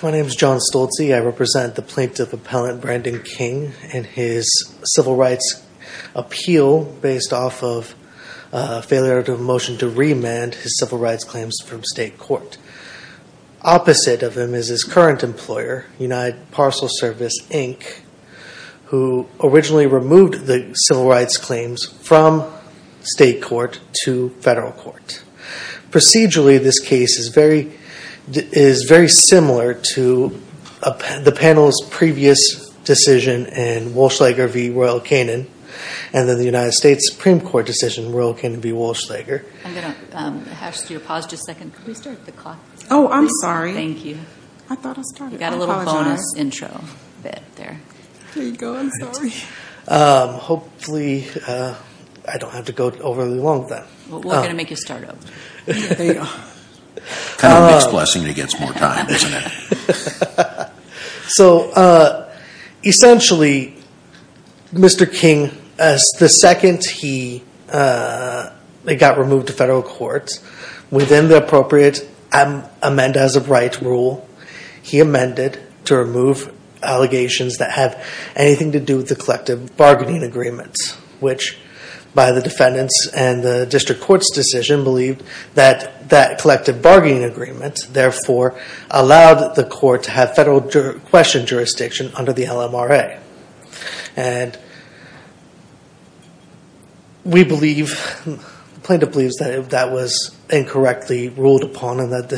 My name is John Stolze. I represent the plaintiff appellant Brandon King and his civil rights appeal based off of a failure to motion to remand his civil rights claims from state court. Opposite of him is his current employer, United Parcel Service, Inc., who originally removed the civil rights claims from state court to federal court. Procedurally, this case is very similar to the panel's previous decision in Walsh-Lager v. Royal-Canon and then the United States Supreme Court decision in Royal-Canon v. Walsh-Lager. I'm going to ask you to pause just a second. Can we start the clock? Oh, I'm sorry. Thank you. I thought I started. I apologize. You got a little bonus intro bit there. There you go. I'm sorry. Hopefully, I don't have to go overly long with that. We're going to make you start over. There you go. Kind of a mixed blessing that he gets more time, isn't it? Essentially, Mr. King, the second he got removed to federal court, within the appropriate amend as of right rule, he amended to remove allegations that have anything to do with the collective bargaining agreements, which by the defendants and the collective bargaining agreements, therefore, allowed the court to have federal question jurisdiction under the LMRA. The plaintiff believes that that was incorrectly ruled upon and that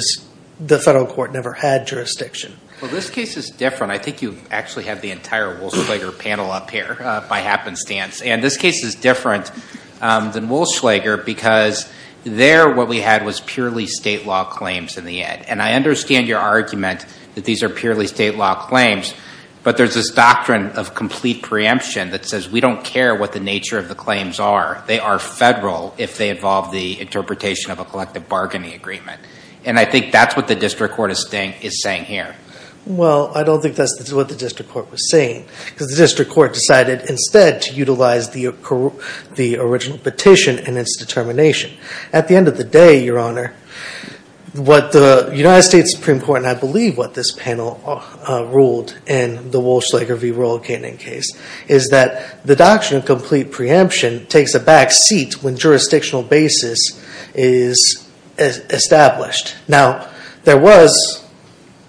the federal court never had jurisdiction. Well, this case is different. I think you actually have the entire Walsh-Lager panel up here by happenstance. This case is different than Walsh-Lager because there what we had was purely state law claims in the end. I understand your argument that these are purely state law claims, but there's this doctrine of complete preemption that says we don't care what the nature of the claims are. They are federal if they involve the interpretation of a collective bargaining agreement. I think that's what the district court is saying here. Well, I don't think that's what the district court was saying because the district court decided instead to utilize the original petition and its determination. At the end of the day, what the United States Supreme Court, and I believe what this panel ruled in the Walsh-Lager v. Royal Canning case, is that the doctrine of complete preemption takes a back seat when jurisdictional basis is established. Now, there was,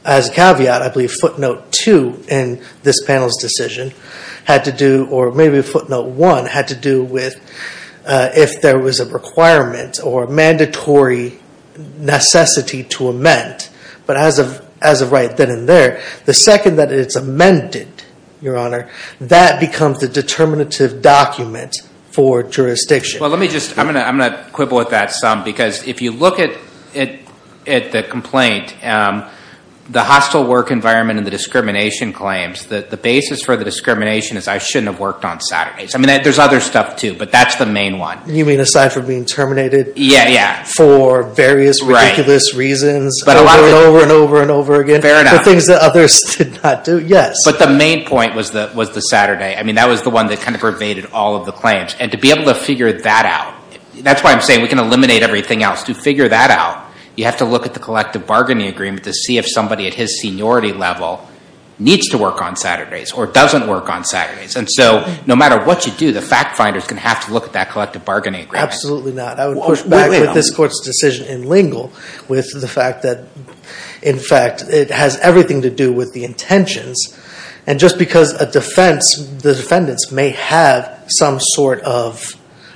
as a caveat, I believe footnote two in this panel's decision had to do, or maybe footnote one, had to do with if there was a requirement or mandatory necessity to amend. But as of right then and there, the second that it's amended, your honor, that becomes the determinative document for jurisdiction. Well, let me just, I'm going to quibble with that some because if you look at the complaint, the hostile work environment and the discrimination claims, the basis for the discrimination is I shouldn't have worked on Saturdays. I mean, there's other stuff too, but that's the main one. You mean aside from being terminated? Yeah, yeah. For various ridiculous reasons over and over and over again. Fair enough. For things that others did not do, yes. But the main point was the Saturday. I mean, that was the one that kind of pervaded all of the claims. And to be able to figure that out, that's why I'm saying we can eliminate everything else. To figure that out, you have to look at the collective bargaining agreement to see if somebody at his seniority level needs to work on Saturdays or doesn't work on Saturdays. And so no matter what you do, the fact finders can have to look at that collective bargaining agreement. Absolutely not. I would push back with this court's decision in Lingle with the fact that, in fact, it has everything to do with the intentions. And just because a defense, the defendants may have some sort of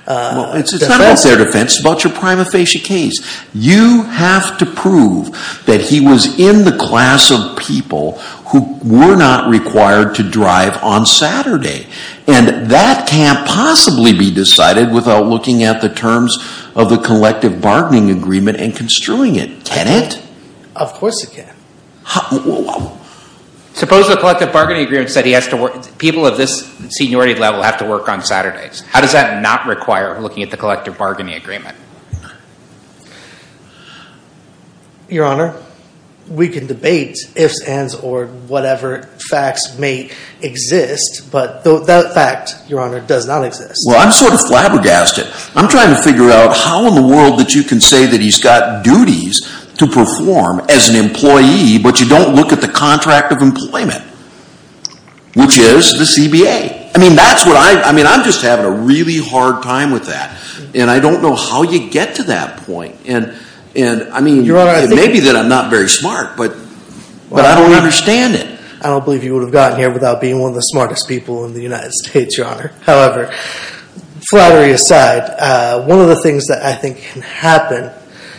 defense. It's not about their defense. It's about your prima facie case. You have to prove that he was in the class of people who were not required to drive on Saturday. And that can't possibly be decided without looking at the terms of the collective bargaining agreement and construing it. Can it? Of course it can. Suppose the collective bargaining agreement said people of this seniority level have to on Saturdays. How does that not require looking at the collective bargaining agreement? Your Honor, we can debate ifs, ands, or whatever facts may exist. But that fact, Your Honor, does not exist. Well, I'm sort of flabbergasted. I'm trying to figure out how in the world that you can say that he's got duties to perform as an employee, but you don't look at the contract of employment, which is the CBA. I mean, I'm just having a really hard time with that. And I don't know how you get to that point. And I mean, it may be that I'm not very smart, but I don't understand it. I don't believe you would have gotten here without being one of the smartest people in the United States, Your Honor. However, flattery aside, one of the things that I think can happen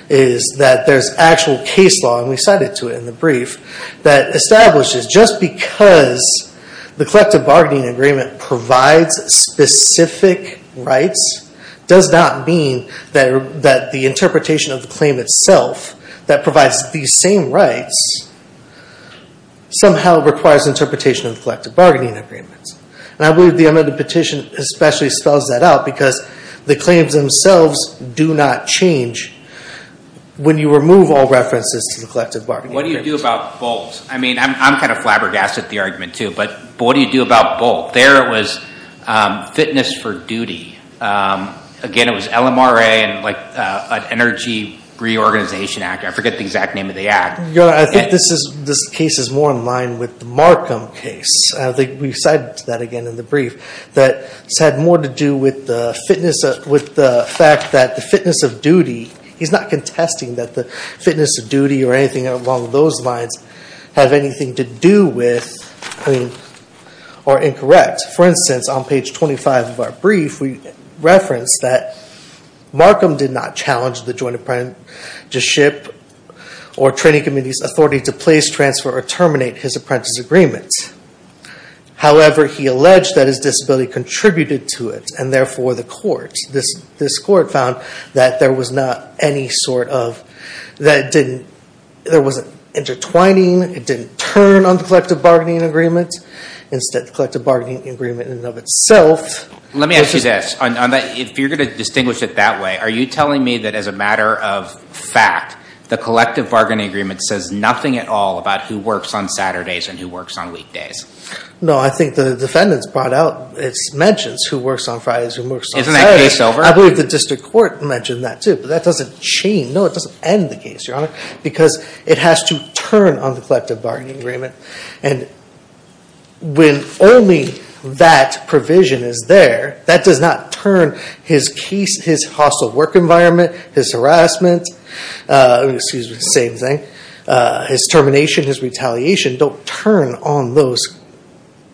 is that there's actual case law, and we cited to it in the brief, that establishes just because the collective bargaining agreement provides specific rights does not mean that the interpretation of the claim itself that provides these same rights somehow requires interpretation of the collective bargaining agreement. And I believe the amended petition especially spells that out, because the claims themselves do not change when you remove all references to the collective bargaining agreement. What do you do about BOLT? I mean, I'm kind of flabbergasted at the argument, too. But what do you do about BOLT? There it was fitness for duty. Again, it was LMRA and an Energy Reorganization Act. I forget the exact name of the act. Your Honor, I think this case is more in line with the Markham case. I think we cited that again in the brief, that it's had more to do with the fact that the fitness of duty, he's not contesting that the fitness of duty or anything along those lines have anything to do with or incorrect. For instance, on page 25 of our brief, we referenced that Markham did not challenge the Joint Apprenticeship or training committee's authority to place, transfer, or terminate his apprentice agreement. However, he alleged that his disability contributed to it, and therefore the court, this court found that there was not any sort of, that it didn't, there wasn't intertwining, it didn't turn on the collective bargaining agreement. Instead, the collective bargaining agreement in and of itself- Let me ask you this. If you're going to distinguish it that way, are you telling me that as a matter of fact, the collective bargaining agreement says nothing at all about who works on Saturdays and who works on weekdays? No, I think the defendants brought out mentions who works on Fridays and who works on Saturdays. Isn't that case over? I believe the district court mentioned that too, but that doesn't change. No, it doesn't end the case, Your Honor, because it has to turn on the collective bargaining agreement. And when only that provision is there, that does not turn his case, his hostile work environment, his harassment, excuse me, same thing, his termination, his retaliation, don't turn on those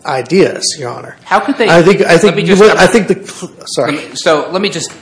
ideas, Your Honor. How could they- Sorry. So let me just,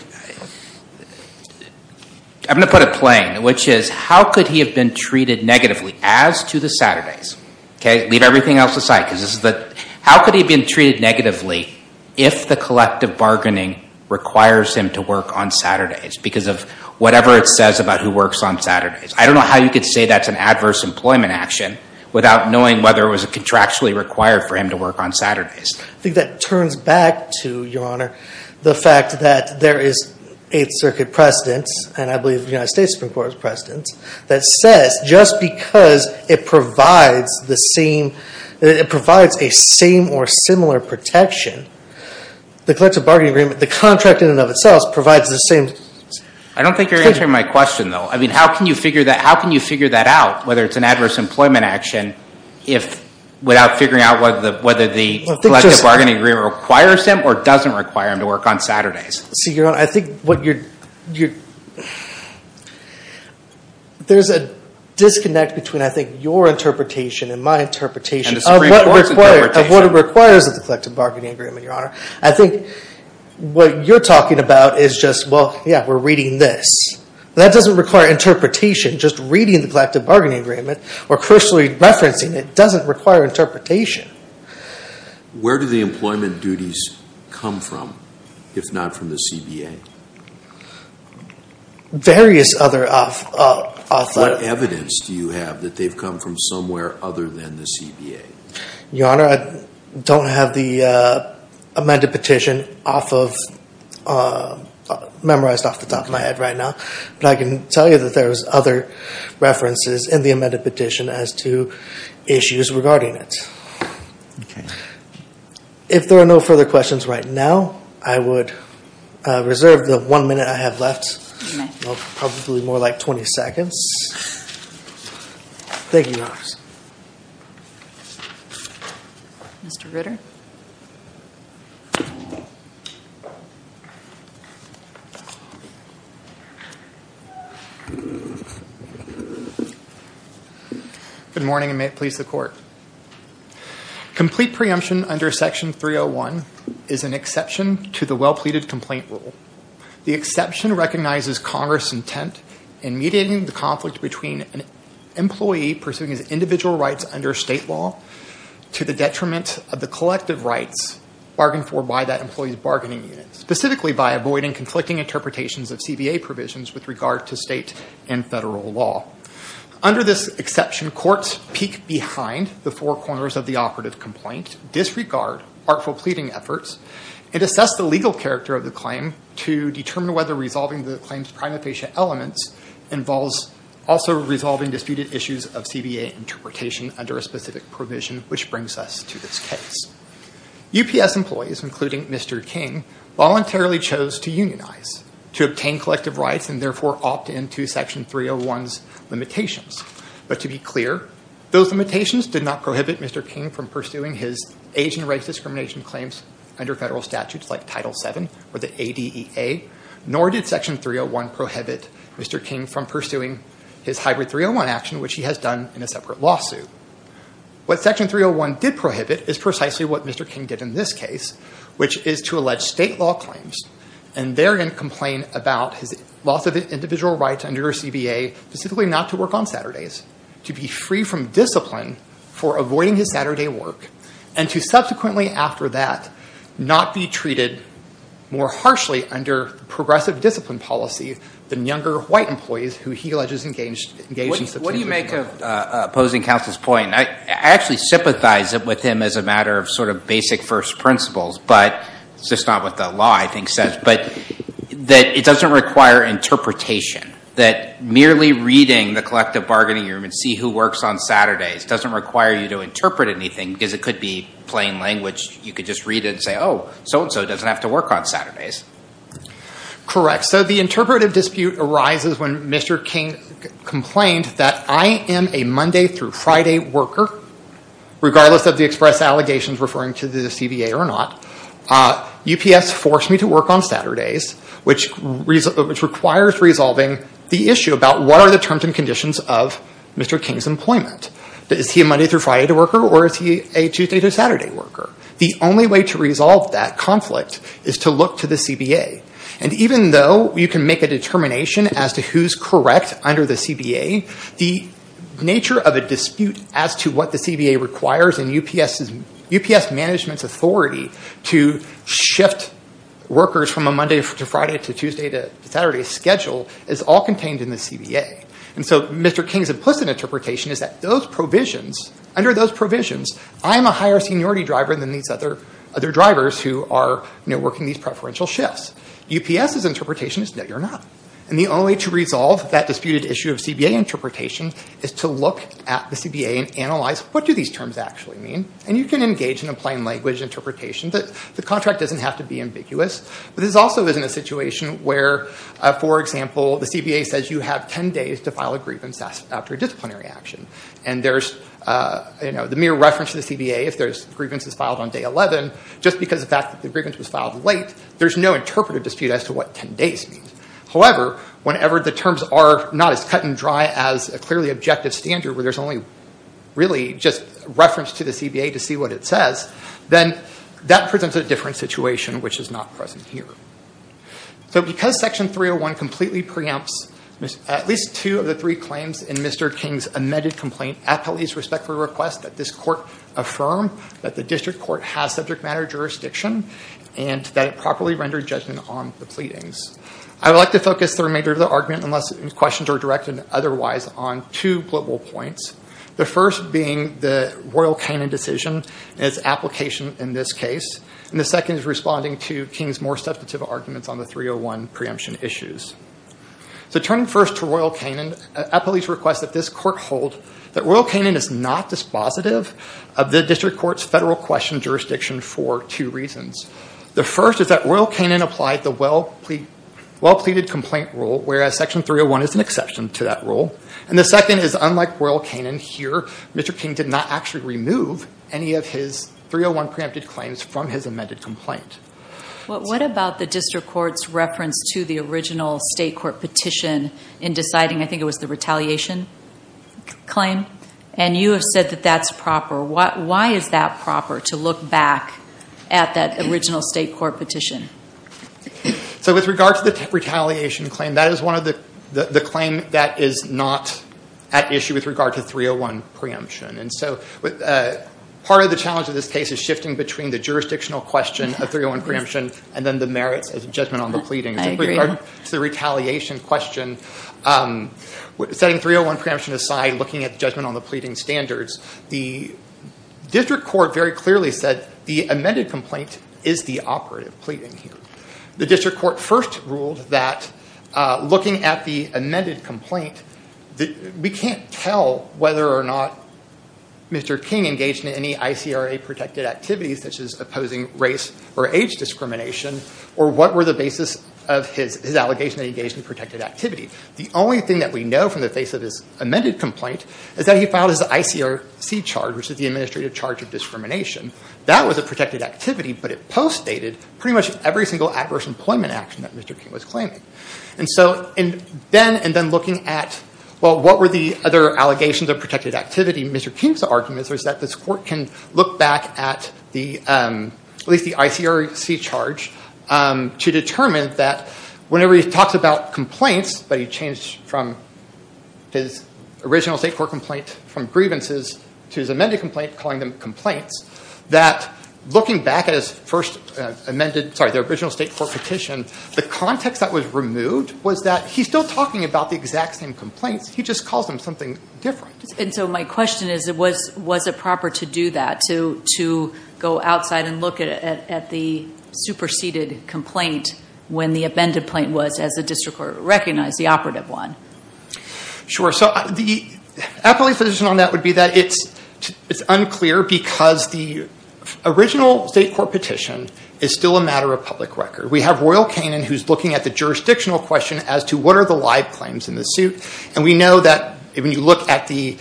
I'm going to put it plain, which is how could he have been treated negatively as to the Saturdays? Leave everything else aside because this is the, how could he have been treated negatively if the collective bargaining requires him to work on Saturdays because of whatever it says about who works on Saturdays? I don't know how you could say that's an adverse employment action without knowing whether it was contractually required for him to work on Saturdays. I think that turns back to, Your Honor, the fact that there is Eighth Circuit precedents, and I believe the United States Supreme Court has precedents, that says just because it provides the same, it provides a same or similar protection, the collective bargaining agreement, the contract in and of itself provides the same- I don't think you're answering my question though. I mean, how can you figure that, how can you figure that out, whether it's an adverse employment action, if, without figuring out whether the collective bargaining agreement requires him or doesn't require him to work on Saturdays? See, Your Honor, I think what you're, there's a disconnect between, I think, your interpretation and my interpretation of what it requires of the collective bargaining agreement, Your Honor. I think what you're talking about is just, well, yeah, we're reading this. That doesn't require interpretation, just reading the collective bargaining agreement or personally referencing it doesn't require interpretation. Where do the employment duties come from, if not from the CBA? Various other- What evidence do you have that they've come from somewhere other than the CBA? Your Honor, I don't have the amended petition off of, memorized off the top of my head right now, but I can tell you that there's other references in the amended petition as to issues regarding it. If there are no further questions right now, I would reserve the one minute I have left. Probably more like 20 seconds. Thank you, Your Honor. Mr. Ritter? Good morning, and may it please the Court. Complete preemption under Section 301 is an exception to the well-pleaded complaint rule. The exception recognizes Congress' intent in mediating the conflict between an employee pursuing his individual rights under state law to the detriment of the collective rights bargained for by that employee's bargaining unit, specifically by avoiding conflicting interpretations of CBA provisions with regard to state and federal law. Under this exception, courts peek behind the four corners of the operative complaint, disregard artful pleading efforts, and assess the legal character of the claim to determine whether resolving the claim's prima facie elements involves also resolving disputed issues of CBA interpretation under a specific provision, which brings us to this case. UPS employees, including Mr. King, voluntarily chose to unionize, to obtain collective rights, and therefore opt into Section 301's limitations. But to be clear, those limitations did not prohibit Mr. King from pursuing his Asian rights discrimination claims under federal statutes like Title VII or the ADEA, nor did Section 301 prohibit Mr. King from pursuing his hybrid 301 action, which he has done in a separate lawsuit. What Section 301 did prohibit is precisely what Mr. King did in this case, which is to allege state law claims and therein complain about his loss of individual rights under CBA, specifically not to work on Saturdays, to be free from discipline for avoiding his Saturday work, and to subsequently after that not be treated more harshly under progressive discipline policy than younger white employees who he alleges engaged in substantive employment. Opposing counsel's point, I actually sympathize with him as a matter of sort of basic first principles, but it's just not what the law I think says, but that it doesn't require interpretation, that merely reading the collective bargaining room and see who works on Saturdays doesn't require you to interpret anything because it could be plain language. You could just read it and say, oh, so-and-so doesn't have to work on Saturdays. Correct. The interpretive dispute arises when Mr. King complained that I am a Monday through Friday worker, regardless of the express allegations referring to the CBA or not. UPS forced me to work on Saturdays, which requires resolving the issue about what are the terms and conditions of Mr. King's employment. Is he a Monday through Friday worker or is he a Tuesday to Saturday worker? The only way to resolve that conflict is to look to the CBA. Even though you can make a determination as to who's correct under the CBA, the nature of a dispute as to what the CBA requires in UPS management's authority to shift workers from a Monday to Friday to Tuesday to Saturday schedule is all contained in the CBA. Mr. King's implicit interpretation is that under those provisions, I'm a higher seniority than these other drivers who are working these preferential shifts. UPS's interpretation is no, you're not. The only way to resolve that disputed issue of CBA interpretation is to look at the CBA and analyze what do these terms actually mean. You can engage in a plain language interpretation. The contract doesn't have to be ambiguous, but this also isn't a situation where, for example, the CBA says you have 10 days to file a grievance after a disciplinary action. And there's, you know, the mere reference to the CBA if there's grievances filed on day 11, just because of the fact that the grievance was filed late, there's no interpretive dispute as to what 10 days means. However, whenever the terms are not as cut and dry as a clearly objective standard where there's only really just reference to the CBA to see what it says, then that presents a different situation, which is not present here. So because Section 301 completely preempts at least two of the three claims in Mr. King's amended complaint, appellees respectfully request that this court affirm that the district court has subject matter jurisdiction and that it properly rendered judgment on the pleadings. I would like to focus the remainder of the argument, unless questions are directed otherwise, on two political points, the first being the Royal Canin decision and its application in this case, and the second is responding to King's more substantive arguments on the 301 preemption issues. So turning first to Royal Canin, appellees request that this court hold that Royal Canin is not dispositive of the district court's federal question jurisdiction for two reasons. The first is that Royal Canin applied the well-pleaded complaint rule, whereas Section 301 is an exception to that rule. And the second is unlike Royal Canin here, Mr. King did not actually remove any of his 301 preempted claims from his amended complaint. What about the district court's reference to the original state court petition in deciding, I think it was the retaliation claim? And you have said that that's proper. Why is that proper to look back at that original state court petition? So with regard to the retaliation claim, that is the claim that is not at issue with regard to 301 preemption. And so part of the challenge of this case is shifting between the jurisdictional question of 301 preemption and then the merits as a judgment on the pleading. With regard to the retaliation question, setting 301 preemption aside, looking at judgment on the pleading standards, the district court very clearly said the amended complaint is the operative pleading here. The district court first ruled that looking at the amended complaint, we can't tell whether or not Mr. King engaged in any ICRA protected activities, such as opposing race or age discrimination, or what were the basis of his allegation that he engaged in protected activity. The only thing that we know from the face of his amended complaint is that he filed his ICRC charge, which is the Administrative Charge of Discrimination. That was a protected activity, but it postdated pretty much every single adverse employment action that Mr. King was claiming. And so then, and then looking at, well, what were the other allegations of protected activity, Mr. King's argument was that this court can look back at at least the ICRC charge to determine that whenever he talks about complaints, but he changed from his original state court complaint from grievances to his amended complaint, calling them complaints, that looking back at his first amended, sorry, the original state court petition, the context that was removed was that he's still talking about the exact same complaints, he just calls them something different. And so my question is, was it proper to do that, to go outside and look at the superseded complaint when the amended complaint was, as the district court recognized, the operative one? Sure. So the appellate position on that would be that it's unclear because the original state court petition is still a matter of public record. We have Royal Canin who's looking at the jurisdictional question as to what are the live claims in the suit, and we know that when you look at the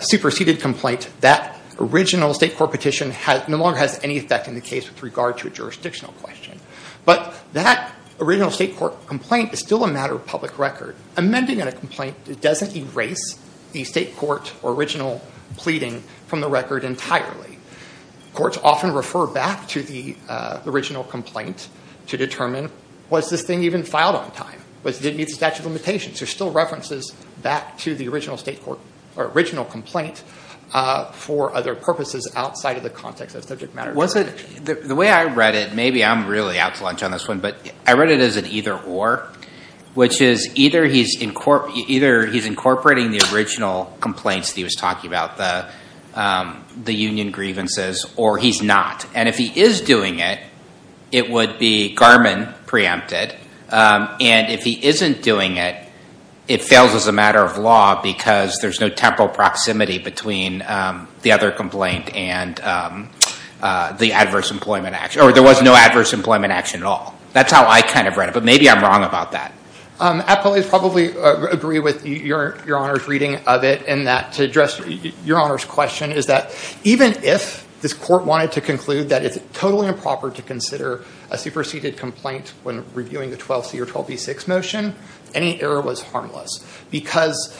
superseded complaint, that original state court petition no longer has any effect in the case with regard to a jurisdictional question. But that original state court complaint is still a matter of public record. Amending a complaint doesn't erase the state court original pleading from the record entirely. Courts often refer back to the original complaint to determine, was this thing even filed on time? Did it meet the statute of limitations? There's still references back to the original complaint for other purposes outside of the context of subject matter. Was it, the way I read it, maybe I'm really out to lunch on this one, but I read it as an either or, which is either he's incorporating the original complaints that he was talking about, the union grievances, or he's not. And if he is doing it, it would be Garmin preempted. And if he isn't doing it, it fails as a matter of law because there's no temporal proximity between the other complaint and the adverse employment action, or there was no adverse employment action at all. That's how I kind of read it, but maybe I'm wrong about that. Appellate probably agree with your Honor's reading of it in that to address your Honor's question is that even if this court wanted to conclude that it's totally improper to consider a superseded complaint when reviewing the 12C or 12B6 motion, any error was harmless. Because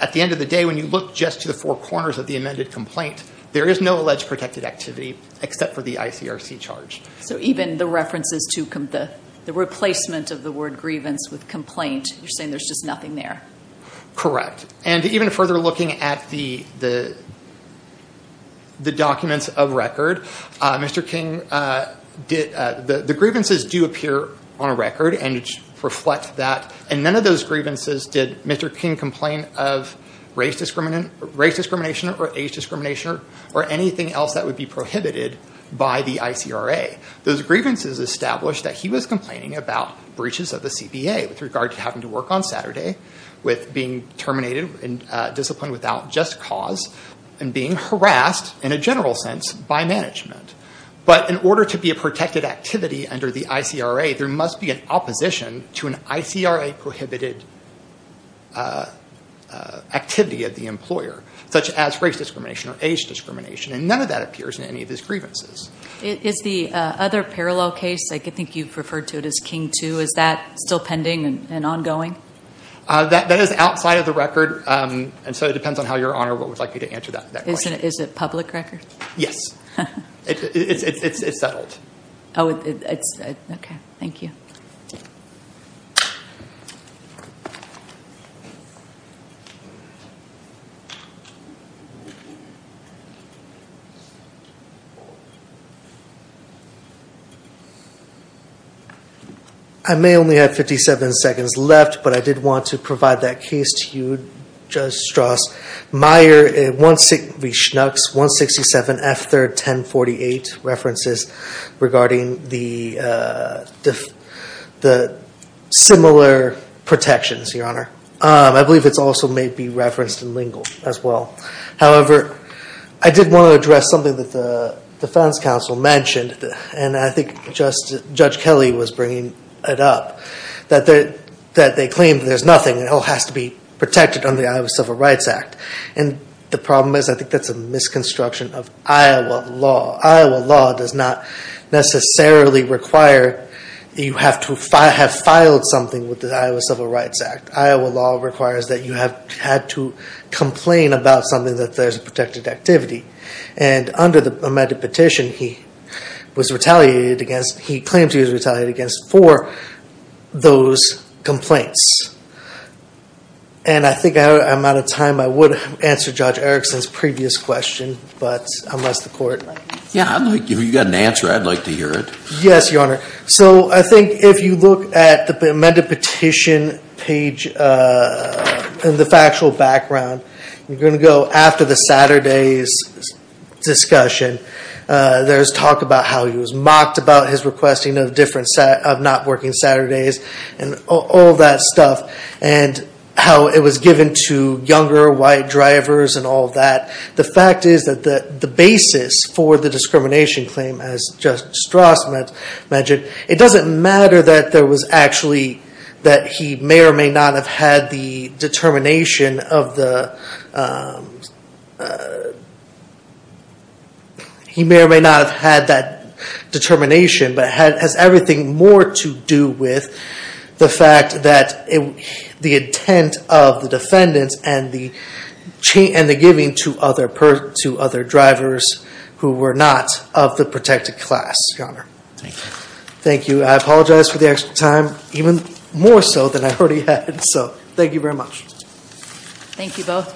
at the end of the day, when you look just to the four corners of the amended complaint, there is no alleged protected activity except for the ICRC charge. So even the references to the replacement of the word grievance with complaint, you're saying there's just nothing there? Correct. And even further looking at the documents of record, the grievances do appear on a record and reflect that. And none of those grievances did Mr. King complain of race discrimination or age discrimination or anything else that would be prohibited by the ICRA. Those grievances established that he was complaining about breaches of the CBA with regard to having to work on Saturday, with being terminated and disciplined without just cause, and being harassed in a general sense by management. But in order to be a protected activity under the ICRA, there must be an opposition to an And none of that appears in any of his grievances. Is the other parallel case, I think you've referred to it as King 2, is that still pending and ongoing? That is outside of the record, and so it depends on how Your Honor would like me to answer that question. Is it public record? Yes. It's settled. Okay. Thank you. I may only have 57 seconds left, but I did want to provide that case to you, Judge Strauss. Meyer, 167 F3rd 1048, references regarding the similar protections, Your Honor. I believe it's also may be referenced in Lingle as well. However, I did want to address something that the defense counsel mentioned, and I think Judge Kelly was bringing it up, that they claim there's nothing that has to be protected under the Iowa Civil Rights Act. And the problem is, I think that's a misconstruction of Iowa law. Iowa law does not necessarily require that you have to have filed something with the Iowa Civil Rights Act. Iowa law requires that you have had to complain about something that there's a protected activity. And under the amended petition, he was retaliated against. He claimed he was retaliated against for those complaints. And I think I'm out of time. I would answer Judge Erickson's previous question, but unless the court- Yeah, if you've got an answer, I'd like to hear it. Yes, Your Honor. So I think if you look at the amended petition page in the factual background, you're going to go after the Saturdays discussion. There's talk about how he was mocked about his requesting of not working Saturdays and all that stuff, and how it was given to younger white drivers and all that. The fact is that the basis for the discrimination claim, as Judge Strauss mentioned, it doesn't matter that there was actually- that he may or may not have had the determination of the- he may or may not have had that determination, but it has everything more to do with the fact that the intent of the defendants and the giving to other drivers who were not of the protected class, Your Honor. Thank you. I apologize for the extra time, even more so than I already had. So thank you very much. Thank you both.